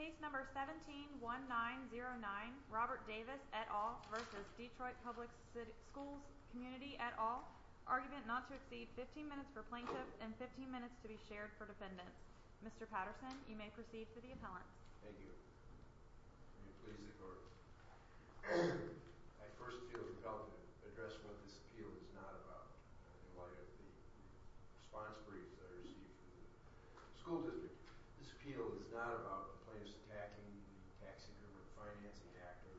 Case No. 17-1909, Robert Davis v. Detroit Public Schools Community at all, argument not to exceed 15 minutes for plaintiff and 15 minutes to be shared for defendants. Mr. Patterson, you may proceed to the appellant. Thank you. May it please the court. I first feel compelled to address what this appeal is not about in light of the response briefs I received from the school district. This appeal is not about the plaintiffs attacking the tax increment financing actor,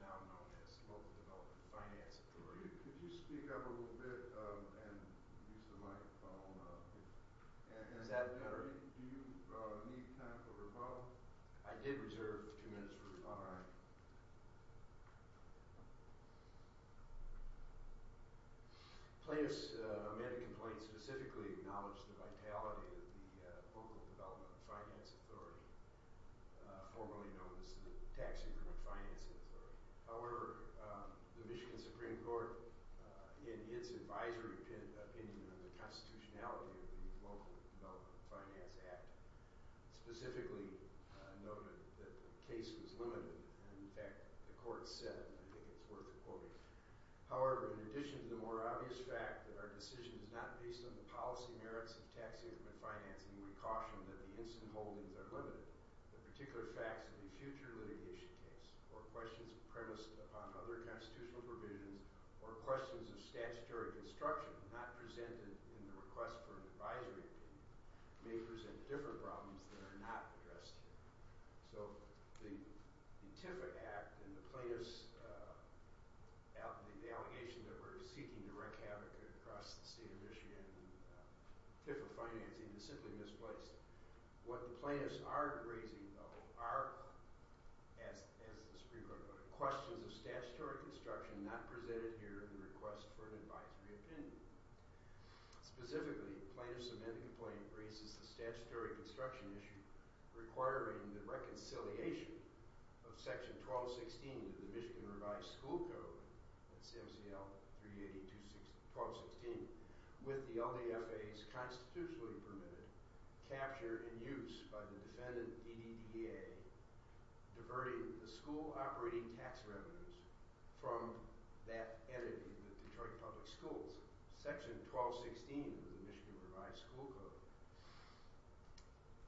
now known as the Local Development Finance Authority. Could you speak up a little bit and use the microphone? Is that better? Do you need time for rebuttal? I did reserve two minutes for rebuttal. Plaintiffs' amended complaint specifically acknowledged the vitality of the Local Development Finance Authority, formerly known as the Tax Increment Financing Authority. However, the Michigan Supreme Court, in its advisory opinion on the constitutionality of the Local Development Finance Act, specifically noted that the case was limited. In fact, the court said, and I think it's worth quoting, However, in addition to the more obvious fact that our decision is not based on the policy merits of tax increment financing, we caution that the incident holdings are limited. The particular facts of the future litigation case, or questions premised upon other constitutional provisions, or questions of statutory construction not presented in the request for an advisory opinion, may present different problems that are not addressed here. So, the TIFA Act and the plaintiffs' allegation that we're seeking to wreak havoc across the state of Michigan and TIFA financing is simply misplaced. What the plaintiffs are raising, though, are, as the Supreme Court noted, questions of statutory construction not presented here in the request for an advisory opinion. Specifically, plaintiffs' amendment complaint raises the statutory construction issue requiring the reconciliation of Section 1216 of the Michigan Revised School Code, that's MCL 382-1216, with the LDFA's constitutionally permitted capture and use by the defendant, DDDA, diverting the school operating tax revenues from that entity, the Detroit Public Schools. Section 1216 of the Michigan Revised School Code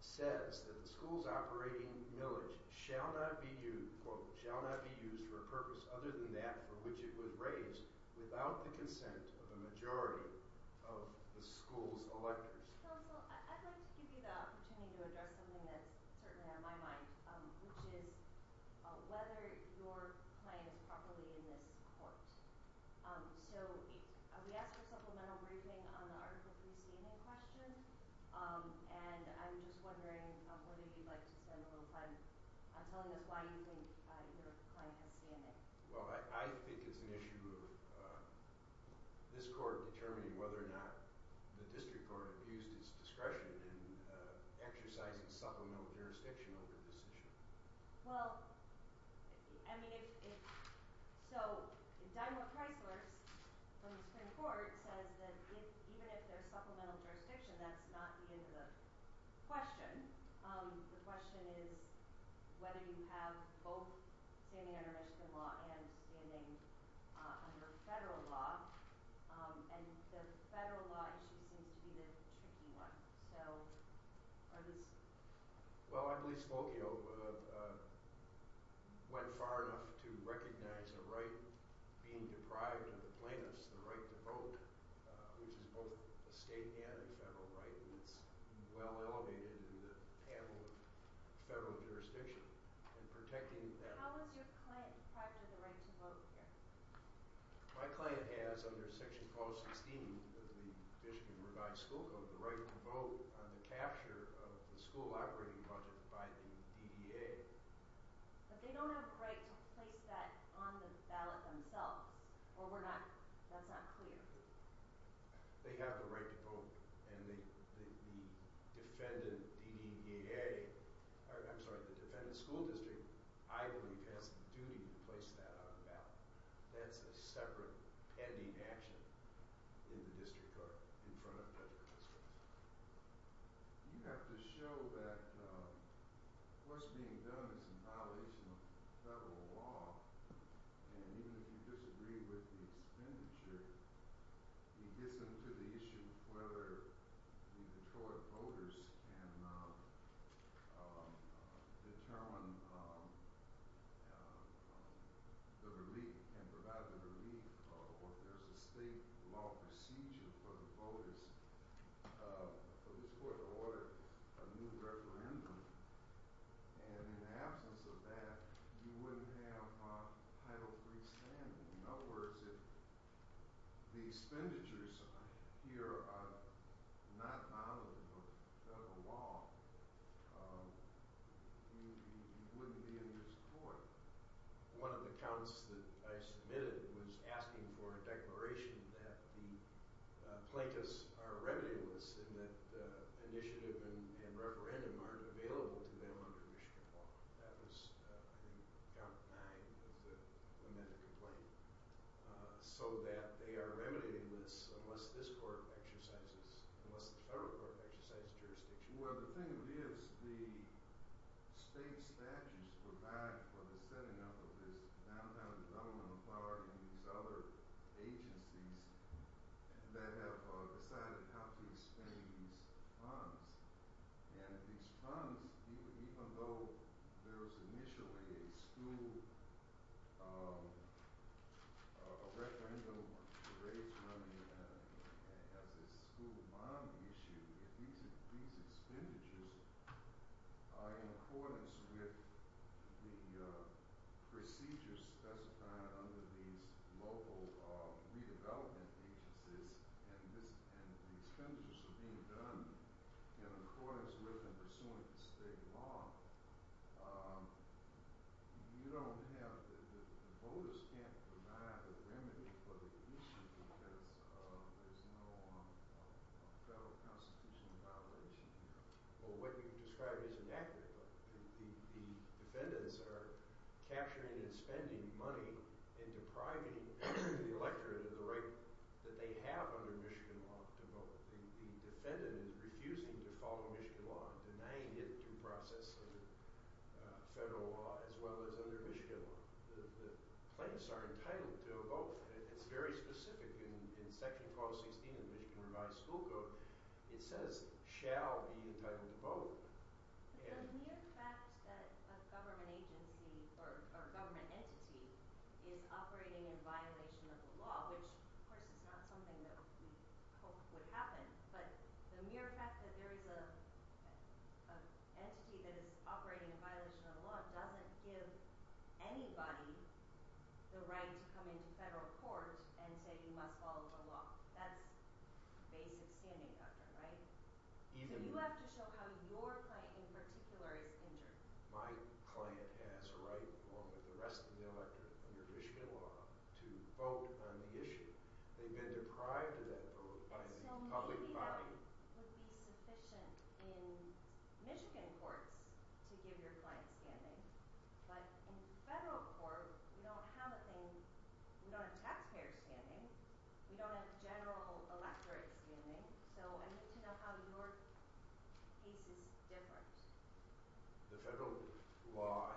says that the school's operating millage shall not be used, quote, shall not be used for a purpose other than that for which it was raised without the consent of a majority of the school's electors. I'd like to give you the opportunity to address something that's certainly on my mind, which is whether your client is properly in this court. So, we asked for a supplemental briefing on the Article 3 CNA question, and I'm just wondering whether you'd like to spend a little time telling us why you think either client has CNA. Well, I think it's an issue of this court determining whether or not the district court abused its discretion in exercising supplemental jurisdiction over this issue. Well, I mean, if – so, Dymo Kreisler from the Supreme Court says that even if there's supplemental jurisdiction, that's not the end of the question. The question is whether you have both standing under Michigan law and standing under federal law, and the federal law issue seems to be the tricky one. So, are these – Well, I believe Smokio went far enough to recognize a right being deprived of the plaintiffs, the right to vote, which is both a state and a federal right, and it's well elevated in the panel of federal jurisdiction, and protecting that – How is your client deprived of the right to vote here? My client has, under Section 416 of the Michigan Revised School Code, the right to vote on the capture of the school operating budget by the DDA. But they don't have a right to place that on the ballot themselves, or we're not – that's not clear. They have the right to vote, and the defendant DDA – I'm sorry, the defendant school district, I believe, has a duty to place that on the ballot. That's a separate pending action in the district court in front of federal districts. You have to show that what's being done is in violation of federal law, and even if you disagree with the expenditure, it gets into the issue of whether the Detroit voters can determine the relief, can provide the relief, or if there's a state law procedure for the voters. For this court of order, a new referendum, and in the absence of that, you wouldn't have Title III standing. In other words, if the expenditures here are not violent of federal law, you wouldn't be in this court. One of the counts that I submitted was asking for a declaration that the plaintiffs are remedialists and that initiative and referendum aren't available to them under Michigan law. That was, I think, count nine of the lamented complaint. So that they are remedialists unless this court exercises – unless the federal court exercises jurisdiction. Well, the thing is, the state statutes provide for the setting up of this downtown development authority and these other agencies that have decided how to expand these funds. And these funds, even though there was initially a school – a referendum raised on the – as a school bond issue, these expenditures are in accordance with the procedures specified under these local redevelopment agencies. And the expenditures are being done in accordance with and pursuant to state law. You don't have – the voters can't provide a remedy for the issue because there's no federal constitutional violation here. Well, what you've described is inaccurate. The defendants are capturing and spending money and depriving the electorate of the right that they have under Michigan law to vote. The defendant is refusing to follow Michigan law and denying it through process of federal law as well as under Michigan law. The plaintiffs are entitled to a vote. It's very specific in Section 1216 of the Michigan Revised School Code. It says, shall be entitled to vote. The mere fact that a government agency or a government entity is operating in violation of the law, which of course is not something that we hoped would happen, but the mere fact that there is an entity that is operating in violation of the law doesn't give anybody the right to come into federal court and say you must follow the law. That's basic standing, right? So you have to show how your client in particular is injured. My client has a right along with the rest of the electorate under Michigan law to vote on the issue. They've been deprived of that by the public body. The federal law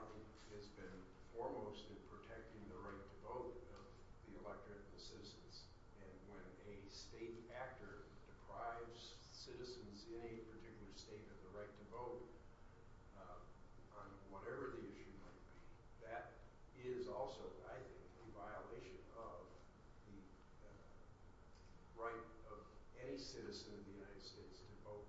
has been foremost in protecting the right to vote of the electorate and the citizens. And when a state actor deprives citizens in a particular state of the right to vote on whatever the issue might be, that is also, I think, a violation of the right of any citizen of the United States to vote.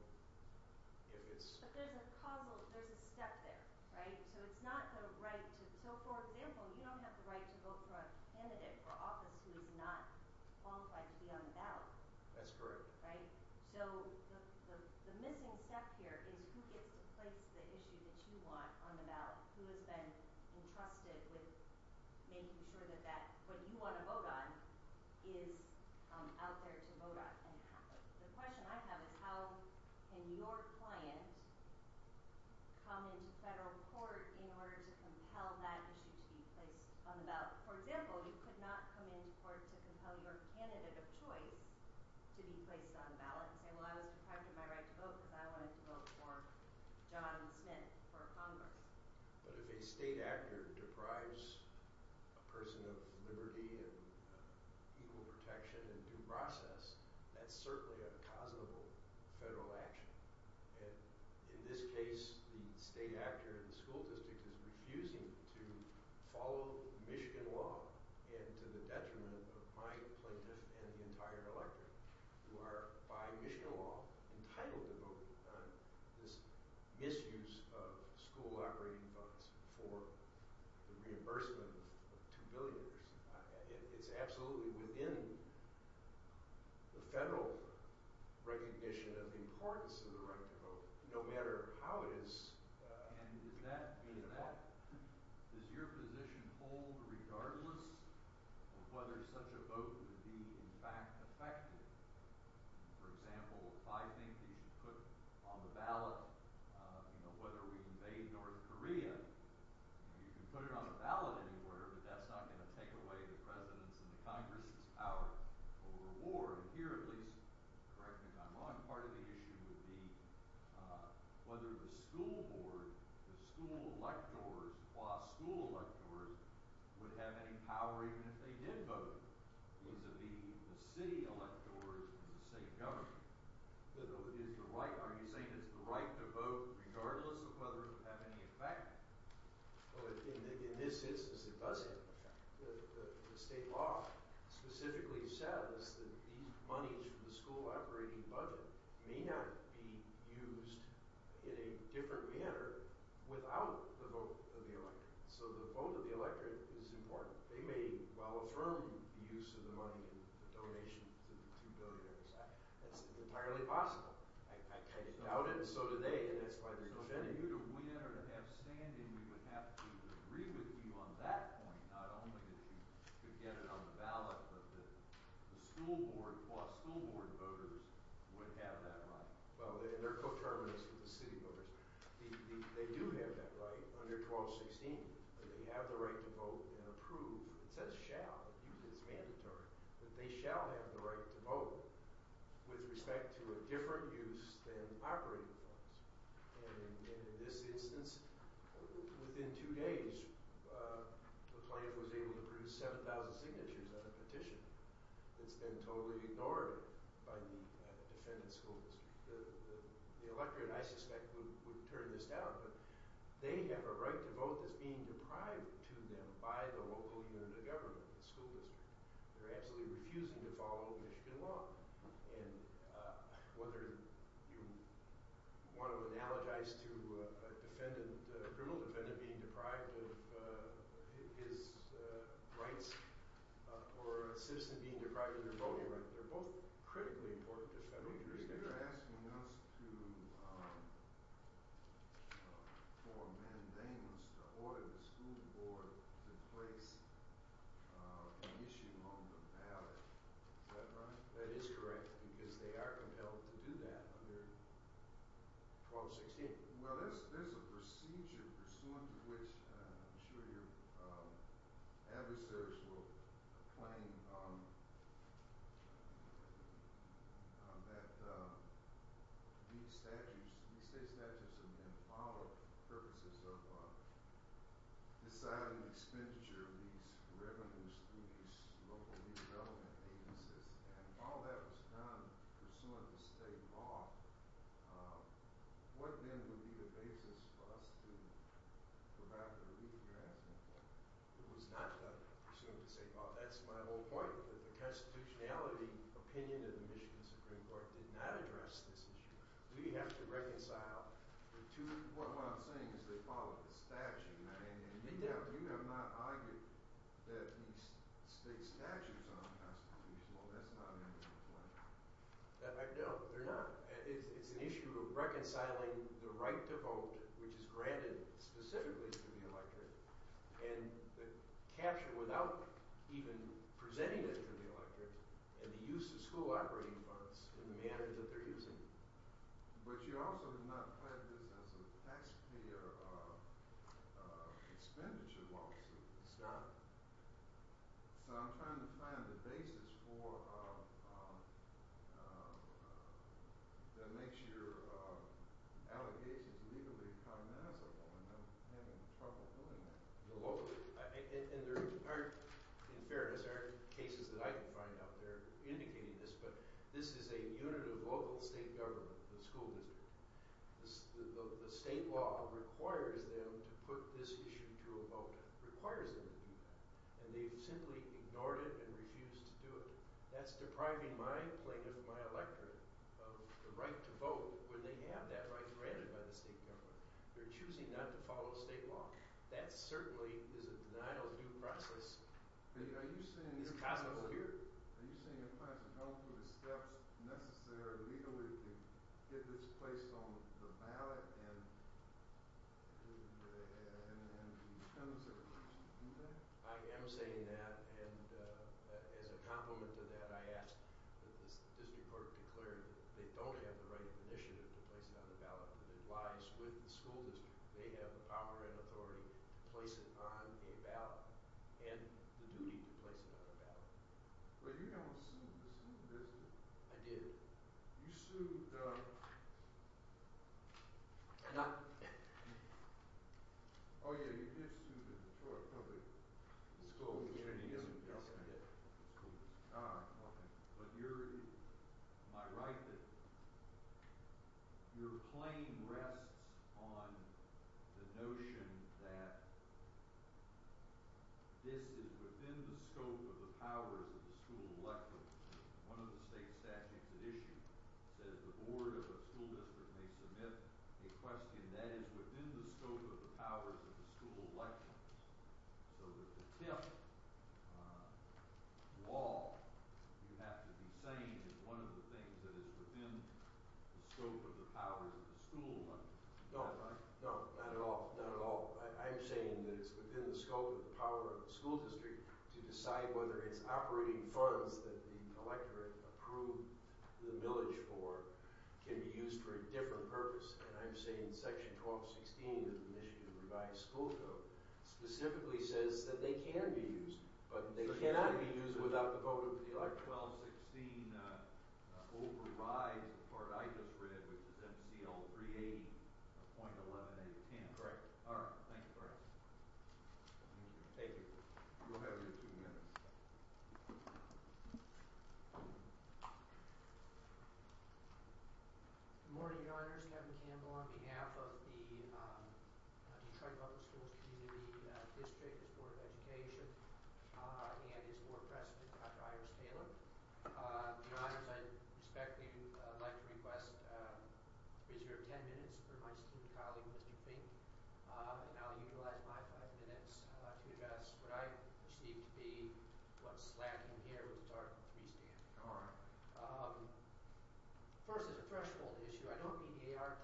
But there's a causal – there's a step there, right? So it's not the right to – so for example, you don't have the right to vote for a candidate for office who is not qualified to be on the ballot. That's correct. Right? So the missing step here is who gets to place the issue that you want on the ballot, who has been entrusted with making sure that that – what you want to vote on is out there to vote on. The question I have is how can your client come into federal court in order to compel that issue to be placed on the ballot? For example, you could not come into court to compel your candidate of choice to be placed on the ballot and say, well, I was deprived of my right to vote because I wanted to vote for John Smith for Congress. But if a state actor deprives a person of liberty and equal protection and due process, that's certainly a causable federal action. And in this case, the state actor in the school district is refusing to follow Michigan law and to the detriment of my plaintiff and the entire electorate who are, by Michigan law, entitled to vote on this misuse of school operating funds for the reimbursement of $2 billion. It's absolutely within the federal recognition of the importance of the right to vote, no matter how it is – And does that mean that – does your position hold regardless of whether such a vote would be in fact effective? For example, if I think that you should put on the ballot whether we invade North Korea, you can put it on the ballot anywhere, but that's not going to take away the president's and the Congress's power over war. And here, at least, correct me if I'm wrong, part of the issue would be whether the school board, the school electors, law school electors, would have any power even if they did vote, vis-a-vis the city electors and the state government. Is the right – are you saying it's the right to vote regardless of whether it would have any effect? In this instance, it doesn't. The state law specifically says that these monies from the school operating budget may not be used in a different manner without the vote of the electorate. So the vote of the electorate is important. They may well affirm the use of the money in the donation to the $2 billion. It's entirely possible. I doubt it, and so do they, and that's why they're defending it. So for you to win or to have standing, we would have to agree with you on that point, not only that you could get it on the ballot, but the school board – law school board voters would have that right. Well, and they're coterminous with the city voters. They do have that right under clause 16 that they have the right to vote and approve – it says shall, but usually it's mandatory – that they shall have the right to vote with respect to a different use than operating funds. And in this instance, within two days, the plaintiff was able to produce 7,000 signatures on a petition that's been totally ignored by the defendant's school district. The electorate, I suspect, would turn this down, but they have a right to vote that's being deprived to them by the local unit of government, the school district. They're absolutely refusing to follow Michigan law, and whether you want to analogize to a criminal defendant being deprived of his rights or a citizen being deprived of their voting rights, they're both critically important to federal jurisdiction. You're asking us to – or mandating us to order the school board to place an issue on the ballot. Is that right? That is correct, because they are compelled to do that under clause 16. Well, there's a procedure pursuant to which I'm sure your adversaries will claim that these statutes – these state statutes have been followed for purposes of deciding the expenditure of these revenues through these local development agencies. And if all that was done pursuant to state law, what then would be the basis for us to provide the relief? You're asking me. It was not pursuant to state law. That's my whole point, that the constitutionality opinion of the Michigan Supreme Court did not address this issue. What I'm saying is they followed the statute, and you have not argued that these state statutes are unconstitutional. That's not an issue. No, they're not. It's an issue of reconciling the right to vote, which is granted specifically to the electorate, and the capture without even presenting it to the electorate, and the use of school operating funds in the manner that they're using them. But you also have not had this as a taxpayer expenditure lawsuit in Scotland. So I'm trying to find the basis for – that makes your allegations legally cognizable, and I'm having trouble doing that. And there aren't – in fairness, there aren't cases that I can find out there indicating this, but this is a unit of local state government, the school district. The state law requires them to put this issue to a vote, requires them to do that, and they've simply ignored it and refused to do it. That's depriving my plaintiff and my electorate of the right to vote when they have that right granted by the state government. They're choosing not to follow state law. That certainly is a denial of due process. Are you saying – It's cognizant of it. Are you saying the class is going through the steps necessary legally to get this placed on the ballot and the censors? I am saying that, and as a complement to that, I ask that the district court declare that they don't have the right of initiative to place it on the ballot, but it lies with the school district. They have the power and authority to place it on a ballot and the duty to place it on a ballot. But you don't sue the school district. I did. You sued – Oh, yeah, you did sue the Detroit public school district. Yes, I did. But you're – am I right that your claim rests on the notion that this is within the scope of the powers of the school electorate? One of the state statutes it issued says the board of the school district may submit a question that is within the scope of the powers of the school electorate. So that the 10th law, you have to be saying is one of the things that is within the scope of the powers of the school. No, no, not at all. Not at all. I'm saying that it's within the scope of the power of the school district to decide whether it's operating funds that the electorate approved the millage for can be used for a different purpose. And I'm saying section 1216 of the initiative revised school code specifically says that they can be used, but they cannot be used without the vote of the electorate. Section 1216 overrides the part I just read, which is MCL 380.11810. Correct. All right. Thank you, Bryce. Thank you. Thank you. You'll have your two minutes. Thank you. Good morning, your honors. Kevin Campbell, on behalf of the Detroit Public Schools Community District, the Board of Education, and its board president, Dr. Iris Taylor. Your honors, I respectfully would like to request a period of 10 minutes for my esteemed colleague, Mr. Fink. And I'll utilize my five minutes to address what I perceive to be what's lacking here, which is Article 3 standing. All right. First, as a threshold issue, I don't mean A.R.T. standing. I think I read A.R.T. hospitality simply for the proposition that in the sequencing of jurisdictional issues, the court can and did find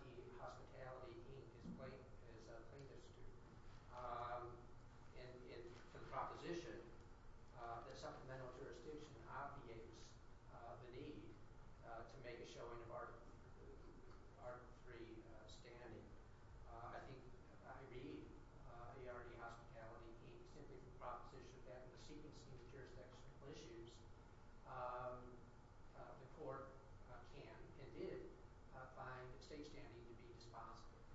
state standing to be dispositive.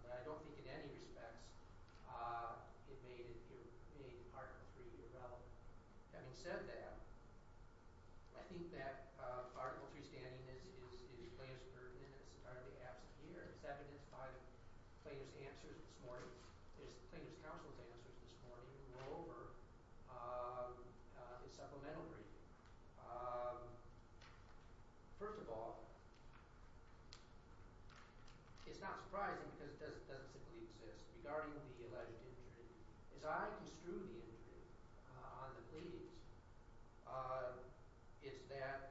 But I don't think in any respects it made Article 3 irrelevant. Having said that, I think that Article 3 standing is plaintiff's burden and is entirely absent here. Is that evidenced by the plaintiff's answers this morning? Is the plaintiff's counsel's answers this morning? Or is it supplemental briefing? First of all, it's not surprising because it doesn't simply exist regarding the alleged injury. As I construe the injury on the pleas, it's that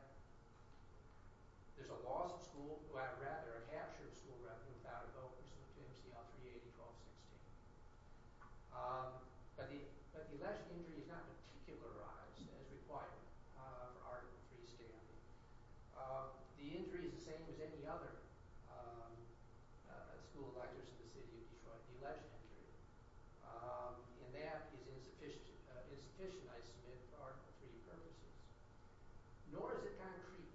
there's a loss of school, or rather a capture of school revenue without a vote, which is MCL 380-1216. But the alleged injury is not particularized as required for Article 3 standing. The injury is the same as any other school of lectures in the city of Detroit, the alleged injury. And that is insufficient, I submit, for Article 3 purposes. Nor is it concrete.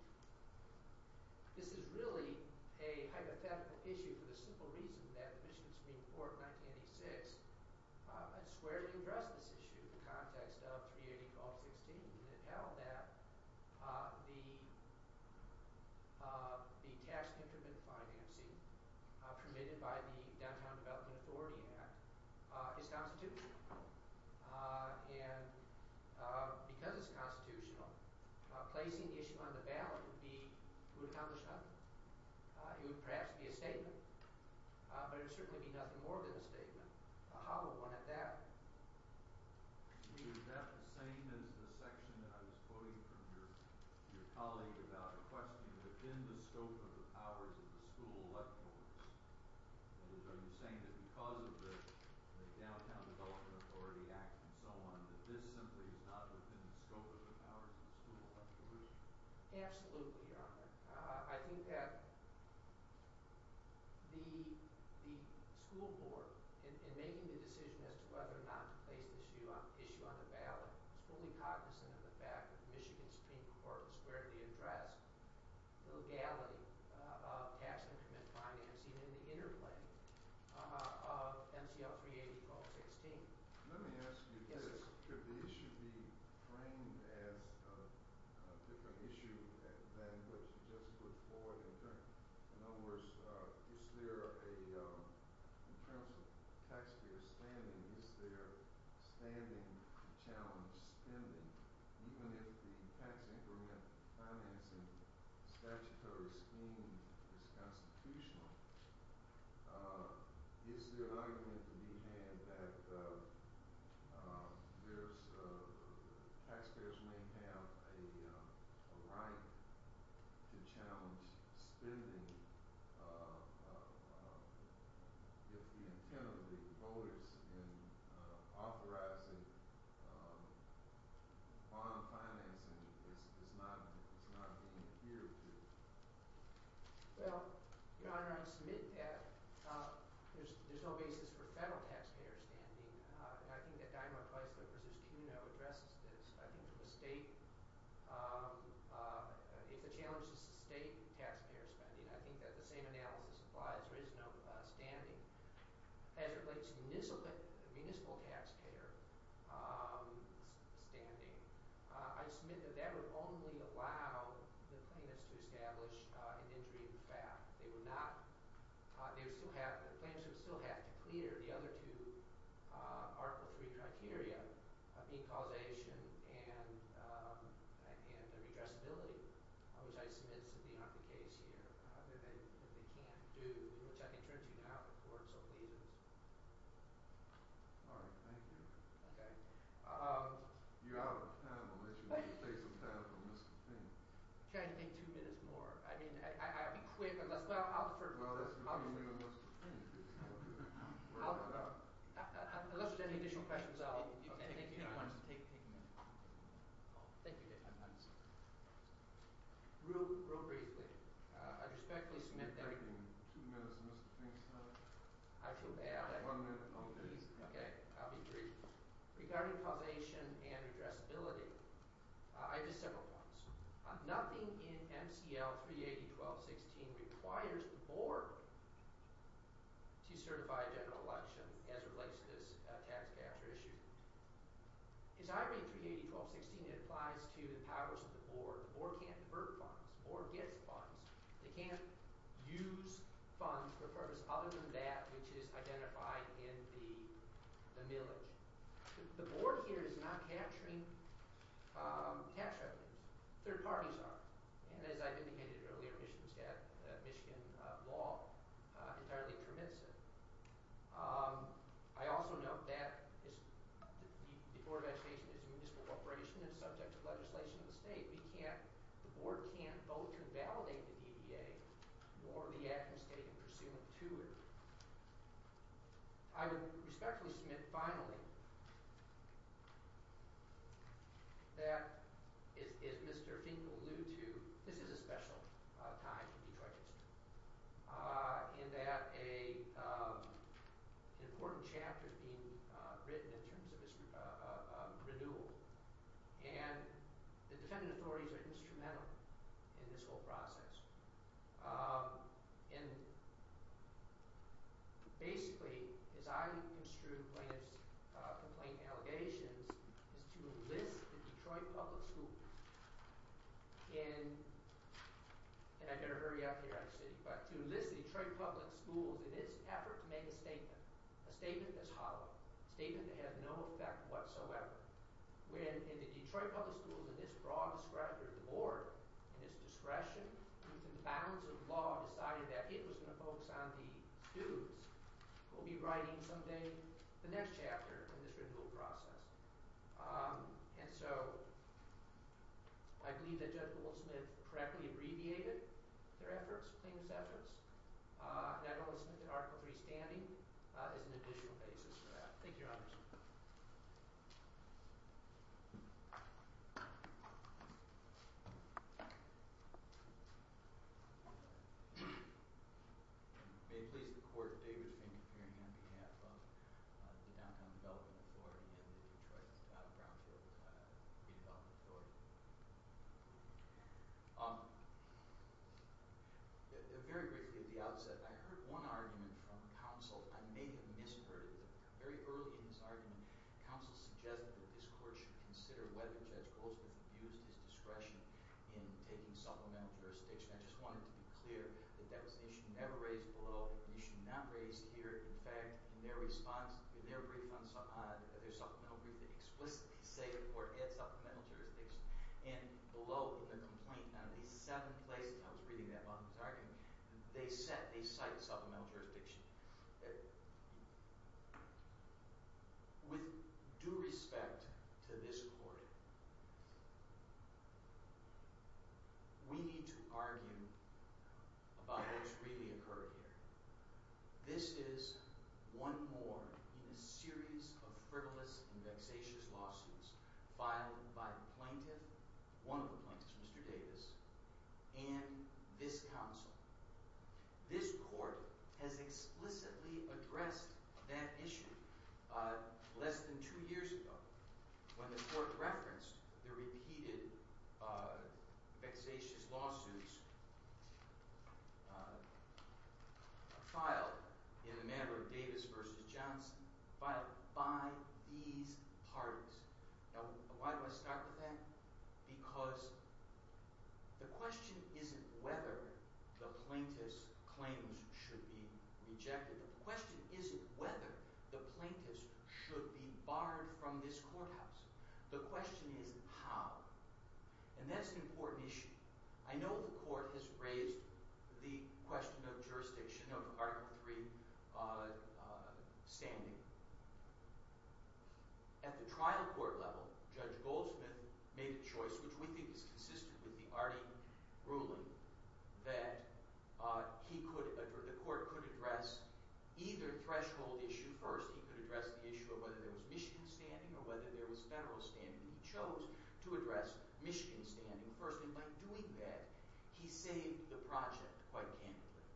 This is really a hypothetical issue for the simple reason that the Michigan Supreme Court in 1986 squarely addressed this issue in the context of 380-1216. And it held that the tax increment financing permitted by the Downtown Development Authority Act is constitutional. And because it's constitutional, placing the issue on the ballot would accomplish nothing. It would perhaps be a statement, but it would certainly be nothing more than a statement. A hollow one at that. Is that the same as the section that I was quoting from your colleague about a question within the scope of the powers of the school electors? Are you saying that because of the Downtown Development Authority Act and so on, that this simply is not within the scope of the powers of the school electors? Absolutely, Your Honor. I think that the school board, in making the decision as to whether or not to place the issue on the ballot, is fully cognizant of the fact that the Michigan Supreme Court squarely addressed the legality of tax increment financing in the interplay of MCL 380-1216. Let me ask you this. Could the issue be framed as a different issue than what you just put forward? In other words, in terms of taxpayer spending, is there a standing to challenge spending? Even if the tax increment financing statutory scheme is constitutional, is there an argument to be had that taxpayers may have a right to challenge spending? If the intent of the voters in authorizing bond financing is not being adhered to. Well, Your Honor, I submit that there's no basis for federal taxpayer spending. I think that Dymar-Price v. Cuno addresses this. I think if the challenge is to state taxpayer spending, I think that the same analysis applies. There is no standing. As it relates to municipal taxpayer spending, I submit that that would only allow the plaintiffs to establish an injury in FAF. The plaintiffs would still have to clear the other two Article III criteria of being causation and redressability, which I submit is simply not the case here. They can't do, which I can turn to now if the court so pleases. All right. Thank you. Okay. You're out of time. I'll let you take some time for miscontent. Can I take two minutes more? I mean, I'll be quick unless – well, I'll defer to you. Well, that's fine. Unless there's any additional questions, I'll – You can take ten minutes. Thank you, Your Honor. Real briefly, I respectfully submit that – You're taking two minutes, Mr. Finkstead. I feel bad. One minute. Okay. I'll be brief. Regarding causation and redressability, I have just several points. Nothing in MCL 380.1216 requires the board to certify a general election as it relates to this tax capture issue. As I read 380.1216, it applies to the powers of the board. The board can't convert funds. The board gets funds. They can't use funds for a purpose other than that which is identified in the millage. The board here is not capturing cash revenues. Third parties are. And as I've indicated earlier, Michigan law entirely permits it. I also note that the Board of Education is a municipal corporation and subject to legislation of the state. We can't – the board can't vote to invalidate the DEA or the acting state in pursuant to it. I would respectfully submit finally that, as Mr. Fink will allude to, this is a special time in Detroit history in that an important chapter is being written in terms of renewal. And the defendant authorities are instrumental in this whole process. And basically, as I construe plaintiff's complaint allegations, is to enlist the Detroit public schools in – and I better hurry up here, actually. But to enlist the Detroit public schools in this effort to make a statement, a statement that's hollow, a statement that has no effect whatsoever. When the Detroit public schools in this broad discretion of the board, in its discretion, within the bounds of law, decided that it was going to focus on the students, we'll be writing someday the next chapter in this renewal process. And so I believe that Judge Goldsmith correctly abbreviated their efforts, plaintiff's efforts. And I know that Article III standing is an additional basis for that. Thank you, Your Honors. Thank you. May it please the court, David Fink, appearing on behalf of the Downtown Development Authority and the Detroit Brownfield Redevelopment Authority. Very briefly at the outset, I heard one argument from counsel. I may have misheard it, but very early in this argument, counsel suggested that this court should consider whether Judge Goldsmith abused his discretion in taking supplemental jurisdiction. I just wanted to be clear that that was an issue never raised below, an issue not raised here. In fact, in their response, in their brief on – their supplemental brief, they explicitly say the court had supplemental jurisdiction. And below the complaint on at least seven places – I was reading that while I was arguing – they set – they cite supplemental jurisdiction. With due respect to this court, we need to argue about what's really occurred here. This is one more in a series of frivolous and vexatious lawsuits filed by the plaintiff – one of the plaintiffs, Mr. Davis – and this counsel. This court has explicitly addressed that issue less than two years ago when the court referenced the repeated vexatious lawsuits filed in the manner of Davis v. Johnson filed by these parties. Now, why do I start with that? Because the question isn't whether the plaintiff's claims should be rejected. The question isn't whether the plaintiff's should be barred from this courthouse. The question is how. And that's an important issue. I know the court has raised the question of jurisdiction of Article III standing. At the trial court level, Judge Goldsmith made a choice, which we think is consistent with the Artie ruling, that he could – the court could address either threshold issue first. He could address the issue of whether there was Michigan standing or whether there was federal standing. He chose to address Michigan standing first. And by doing that, he saved the project quite candidly.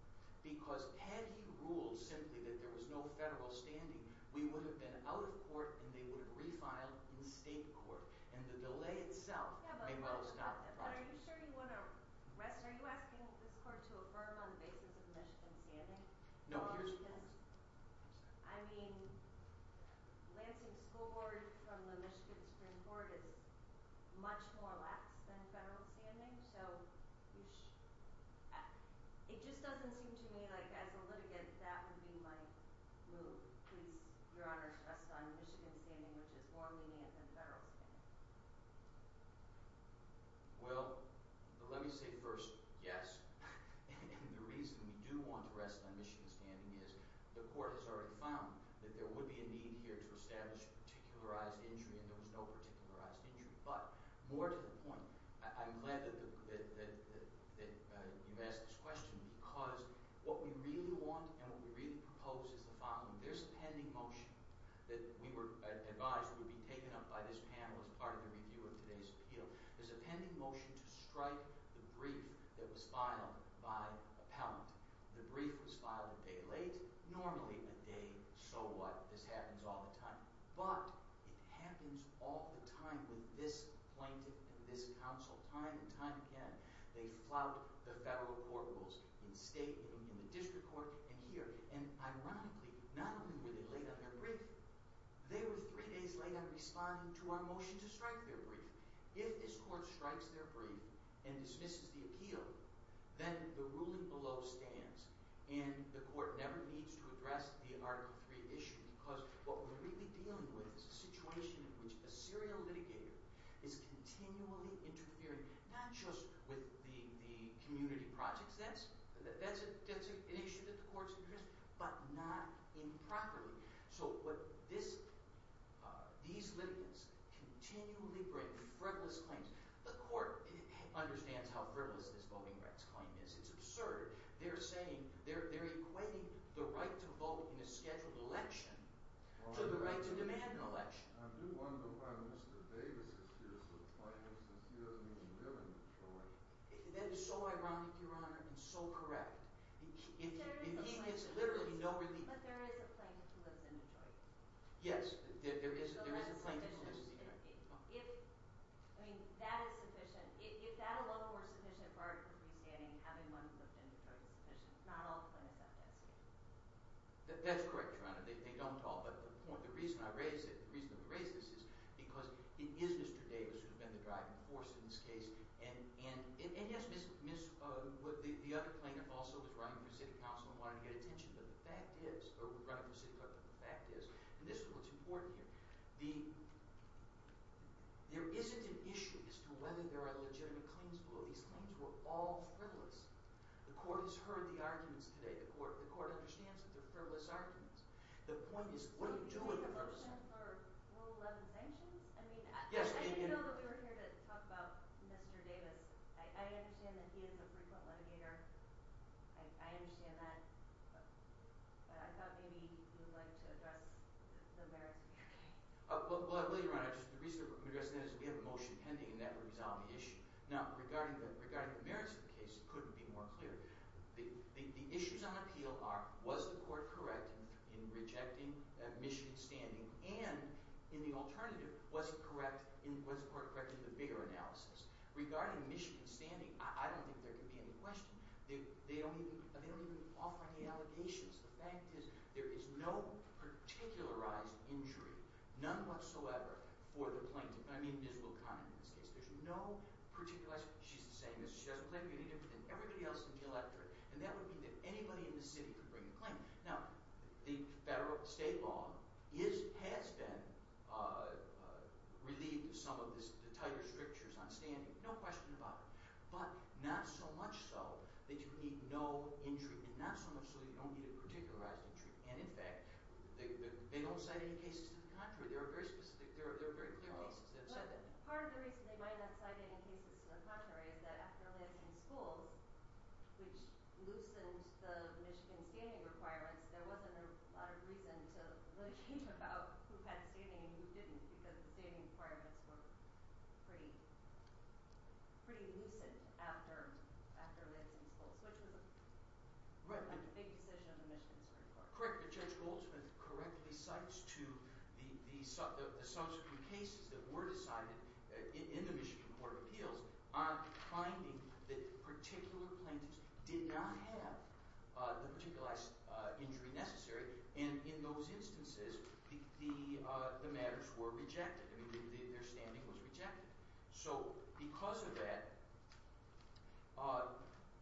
Because had he ruled simply that there was no federal standing, we would have been out of court and they would have refiled in state court. And the delay itself may well have stopped the project. But are you sure you want to – are you asking this court to affirm on the basis of Michigan standing? No, here's the question. I mean, Lansing School Board from the Michigan Supreme Court is much more lax than federal standing. So you – it just doesn't seem to me like as a litigant that would be my move. Please, Your Honor, rest on Michigan standing, which is more lenient than federal standing. Well, let me say first yes. And the reason we do want to rest on Michigan standing is the court has already found that there would be a need here to establish particularized injury and there was no particularized injury. But more to the point, I'm glad that you asked this question because what we really want and what we really propose is the following. There's a pending motion that we were advised would be taken up by this panel as part of the review of today's appeal. There's a pending motion to strike the brief that was filed by appellant. The brief was filed a day late, normally a day so what. This happens all the time. But it happens all the time with this plaintiff and this counsel time and time again. They flout the federal court rules in state, in the district court, and here. And ironically, not only were they late on their brief, they were three days late on responding to our motion to strike their brief. If this court strikes their brief and dismisses the appeal, then the ruling below stands. And the court never needs to address the Article III issue because what we're really dealing with is a situation in which a serial litigator is continually interfering, not just with the community projects. That's an issue that the court's interested in, but not improperly. So what this – these litigants continually bring frivolous claims. The court understands how frivolous this voting rights claim is. It's absurd. They're saying – they're equating the right to vote in a scheduled election to the right to demand an election. I do wonder why Mr. Davis is here to apply this because he doesn't even live in Detroit. That is so ironic, Your Honor, and so correct. But there is a plaintiff who lives in Detroit. Yes, there is a plaintiff who lives in Detroit. If – I mean that is sufficient. If that alone were sufficient for Article III standing, having one who lived in Detroit is sufficient. Not all plaintiffs have that status. That's correct, Your Honor. They don't all, but the point – the reason I raise it, the reason I raise this is because it is Mr. Davis who has been the driving force in this case. And yes, Ms. – the other plaintiff also was running for city council and wanted to get attention. But the fact is – or was running for city clerk, but the fact is – and this is what's important here. The – there isn't an issue as to whether there are legitimate claims below. These claims were all frivolous. The court has heard the arguments today. The court understands that they're frivolous arguments. The point is, what are you doing? The motion for Rule 11 sanctions? I mean, I didn't know that we were here to talk about Mr. Davis. I understand that he is a frequent litigator. I understand that. But I thought maybe you would like to address the merits of your case. Well, I will, Your Honor. Just the reason I'm addressing that is we have a motion pending, and that would resolve the issue. Now, regarding the merits of the case, it couldn't be more clear. The issues on appeal are, was the court correct in rejecting Michigan's standing? And in the alternative, was the court correct in the bigger analysis? Regarding Michigan's standing, I don't think there could be any question. They don't even offer any allegations. The fact is there is no particularized injury, none whatsoever, for the plaintiff. I mean, it is Will Conant in this case. There's no particularized – she's the same. She doesn't claim to be any different than everybody else in the electorate. And that would mean that anybody in the city could bring a claim. Now, the federal – state law is – has been relieved of some of the tighter strictures on standing. No question about it. But not so much so that you need no injury, and not so much so that you don't need a particularized injury. And, in fact, they don't cite any cases to the contrary. There are very specific – there are very clear cases that have said that. But part of the reason they might not cite any cases to the contrary is that after Lansing schools, which loosened the Michigan standing requirements, there wasn't a lot of reason to really care about who had standing and who didn't because the standing requirements were pretty loosened after Lansing schools, which was a big decision of the Michigan Supreme Court. Correct me if I'm wrong, but Judge Goldsmith correctly cites to the subsequent cases that were decided in the Michigan Court of Appeals on finding that particular plaintiffs did not have the particularized injury necessary. And in those instances, the matters were rejected. I mean, their standing was rejected. So because of that –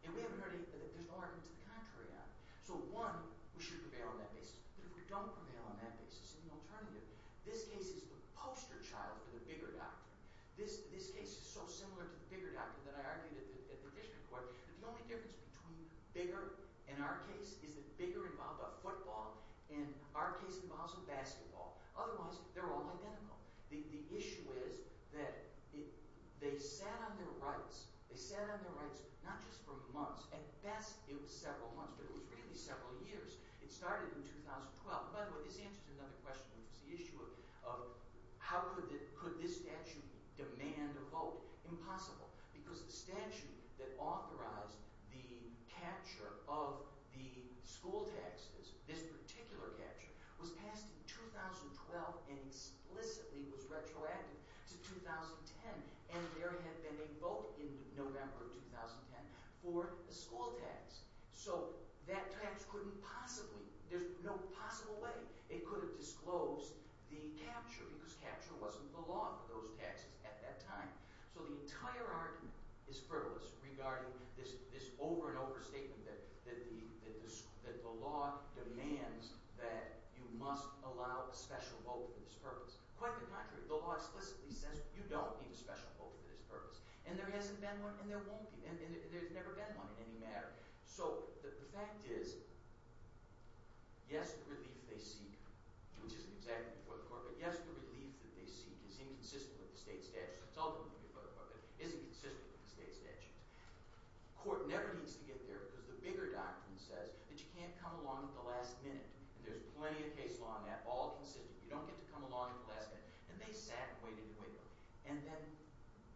and we haven't heard any – there's arguments to the contrary on it. So, one, we should prevail on that basis. But if we don't prevail on that basis, there's an alternative. This case is the poster child for the bigger doctrine. This case is so similar to the bigger doctrine that I argued at the district court that the only difference between bigger in our case is that bigger involved a football, and our case involves a basketball. Otherwise, they're all identical. The issue is that they sat on their rights. They sat on their rights not just for months. At best, it was several months, but it was really several years. It started in 2012. By the way, this answers another question, which is the issue of how could this statute demand a vote. Impossible, because the statute that authorized the capture of the school taxes, this particular capture, was passed in 2012 and explicitly was retroactive to 2010. And there had been a vote in November of 2010 for a school tax. So that tax couldn't possibly – there's no possible way it could have disclosed the capture because capture wasn't the law for those taxes at that time. So the entire argument is frivolous regarding this over and over statement that the law demands that you must allow a special vote for this purpose. Quite the contrary. The law explicitly says you don't need a special vote for this purpose. And there hasn't been one, and there won't be. And there's never been one in any matter. So the fact is, yes, the relief they seek, which isn't exactly before the court, but yes, the relief that they seek is inconsistent with the state statutes. It's ultimately before the court, but it isn't consistent with the state statutes. The court never needs to get there because the bigger doctrine says that you can't come along at the last minute. And there's plenty of case law on that, all consistent. You don't get to come along at the last minute. And they sat and waited and waited. And then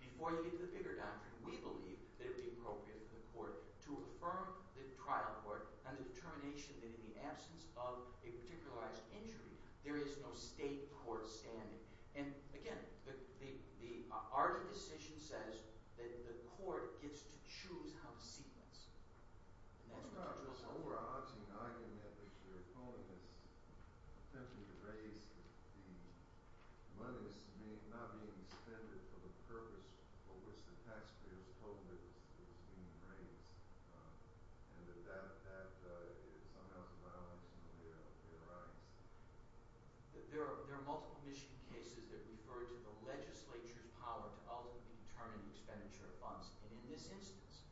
before you get to the bigger doctrine, we believe that it would be appropriate for the court to affirm the trial court on the determination that in the absence of a particularized injury, there is no state court standing. And again, the ARDA decision says that the court gets to choose how to sequence. There's an overarching argument that you're calling this attempt to erase the money that's not being spent for the purpose for which the taxpayers told it was being raised. And that that somehow is a violation of their rights. There are multiple Michigan cases that refer to the legislature's power to ultimately determine the expenditure of funds. And in this instance,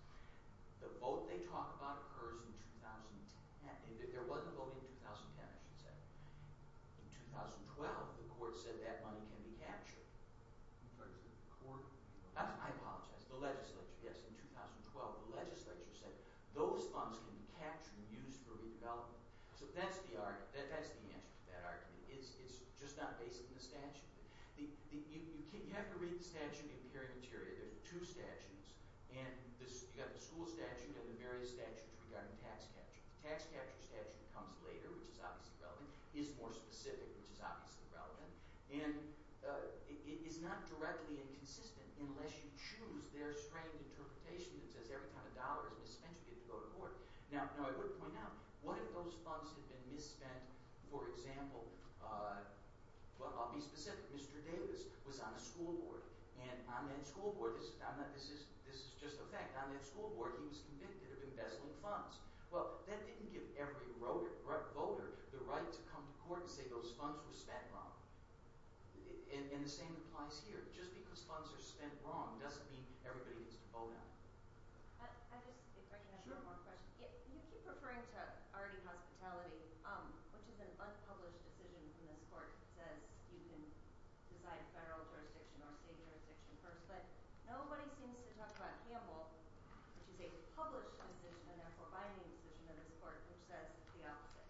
the vote they talk about occurs in 2010. There wasn't a vote in 2010, I should say. In 2012, the court said that money can be captured. I apologize, the legislature. Yes, in 2012, the legislature said those funds can be captured and used for redevelopment. So that's the argument. That's the answer to that argument. It's just not based on the statute. You have to read the statute in the appearing interior. There's two statutes. And you've got the school statute and the various statutes regarding tax capture. The tax capture statute comes later, which is obviously relevant. It is more specific, which is obviously relevant. And it is not directly inconsistent unless you choose their strained interpretation that says every time a dollar is misspent, you get to go to court. Now, I would point out, what if those funds had been misspent, for example – well, I'll be specific. Mr. Davis was on a school board, and on that school board – this is just a fact – on that school board, he was convicted of embezzling funds. Well, that didn't give every voter the right to come to court and say those funds were spent wrong. And the same applies here. Just because funds are spent wrong doesn't mean everybody needs to vote on it. I just – if I can add one more question. You keep referring to already hospitality, which is an unpublished decision in this court that says you can decide federal jurisdiction or state jurisdiction first. But nobody seems to talk about Campbell, which is a published decision and therefore binding decision in this court, which says the opposite.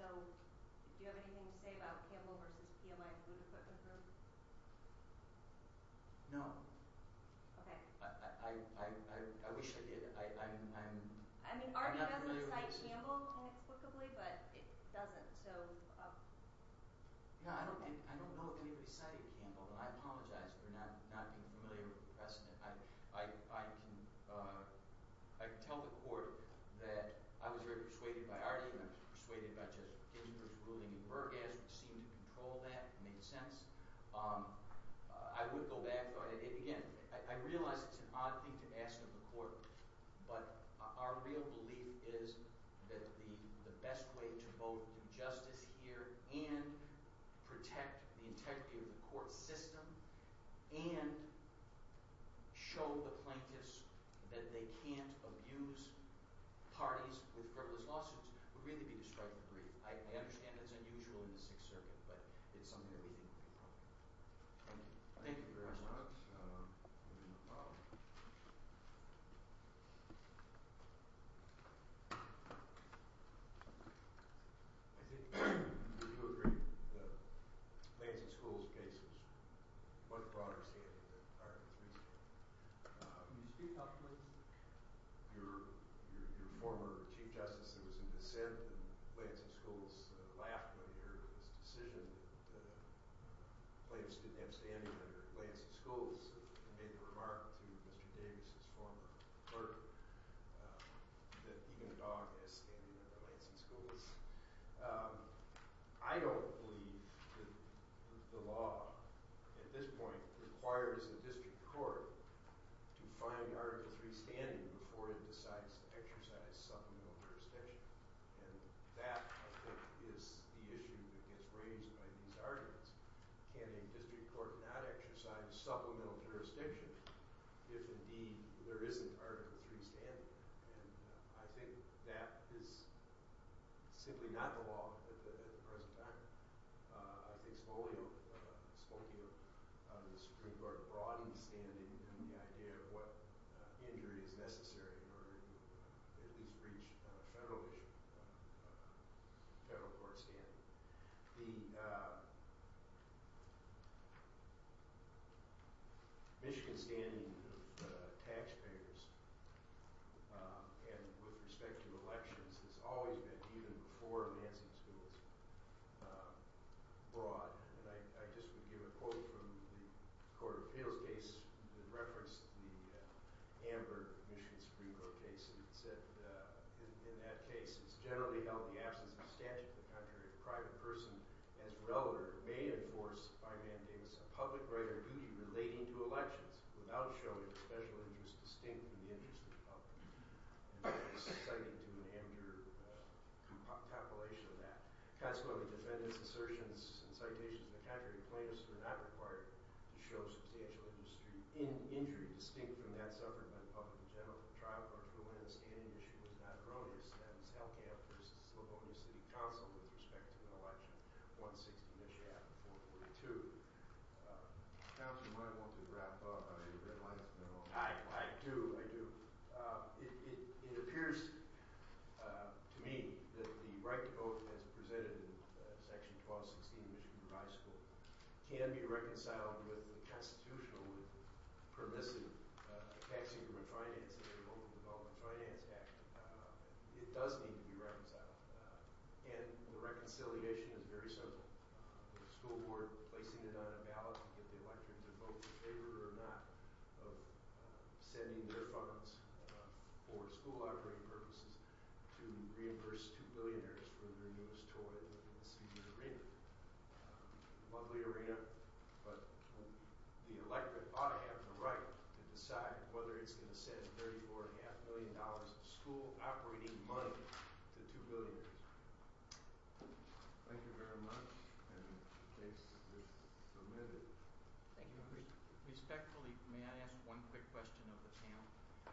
So do you have anything to say about Campbell v. PMI Food Equipment Group? No. Okay. I wish I did. I mean, Artie doesn't cite Campbell inexplicably, but it doesn't, so – No, I don't know if anybody cited Campbell, but I apologize for not being familiar with the precedent. I can tell the court that I was very persuaded by Artie and I was persuaded by Judge Gittinberg's ruling in Burgess, which seemed to control that, made sense. I would go back. Again, I realize it's an odd thing to ask of the court, but our real belief is that the best way to both do justice here and protect the integrity of the court system and show the plaintiffs that they can't abuse parties with frivolous lawsuits would really be to strike the brief. I understand that's unusual in the Sixth Circuit, but it's something that we think would be appropriate. Thank you. Thank you very much. No problem. I think – do you agree that Lansing School's case is much broader-scaled than Artie's case? Can you speak, Dr. Lansing? Your former Chief Justice was in dissent, and Lansing School's laughed when he heard this decision that the plaintiffs didn't have standing under Lansing School's and made the remark to Mr. Davis, his former clerk, that even a dog has standing under Lansing School's. I don't believe that the law at this point requires a district court to find Article III standing before it decides to exercise supplemental jurisdiction. And that, I think, is the issue that gets raised by these arguments. Can a district court not exercise supplemental jurisdiction if, indeed, there isn't Article III standing? And I think that is simply not the law at the present time. I think Spolio – Spokio – the Supreme Court broadened standing in the idea of what injury is necessary in order to at least reach federal issue, federal court standing. The Michigan standing of taxpayers and with respect to elections has always been, even before Lansing School, broad. And I just would give a quote from the Court of Appeals case that referenced the Amber, Michigan Supreme Court case. It said, in that case, it's generally held the absence of statute in the country if a private person as relator may enforce, by Man Davis, a public right or duty relating to elections without showing a special interest distinct from the interest of the public. And Davis cited to an amateur copulation of that. Consequently, defendants' assertions and citations of the contrary plaintiffs were not required to show substantial injury distinct from that suffered by the public in general. The trial court for when the standing issue was not erroneous, that is, Hellcamp v. Slavonia City Council with respect to an election, 1-60, Michigan, 4-42. Counsel, you might want to wrap up on the Red Lines Bill. I do, I do. It appears to me that the right to vote as presented in Section 12-16 of Michigan High School can be reconciled with the constitutional, permissive Tax Increment Finance and Local Development Finance Act. It does need to be reconciled. And the reconciliation is very simple. The school board placing it on a ballot to get the electorate to vote in favor or not of sending their funds for school operating purposes to reimburse two billionaires for their newest toy in the student arena. Lovely arena, but the electorate ought to have the right to decide whether it's going to send $34.5 million of school operating money to two billionaires. Thank you very much. The case is submitted. Thank you. Respectfully, may I ask one quick question of the panel?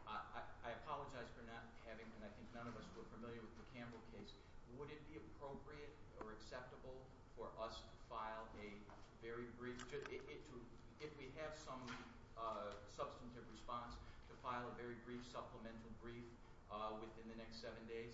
I apologize for not having, and I think none of us were familiar with the Campbell case. Would it be appropriate or acceptable for us to file a very brief, if we have some substantive response, to file a very brief supplemental brief within the next seven days?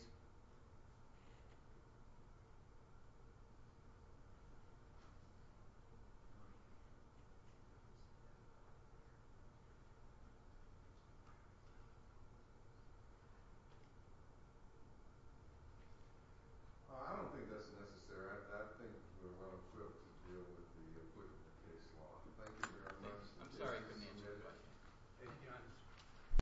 I don't think that's necessary. I think we're well equipped to deal with the equivalent case law. Thank you very much. I'm sorry. I couldn't answer your question. Thank you.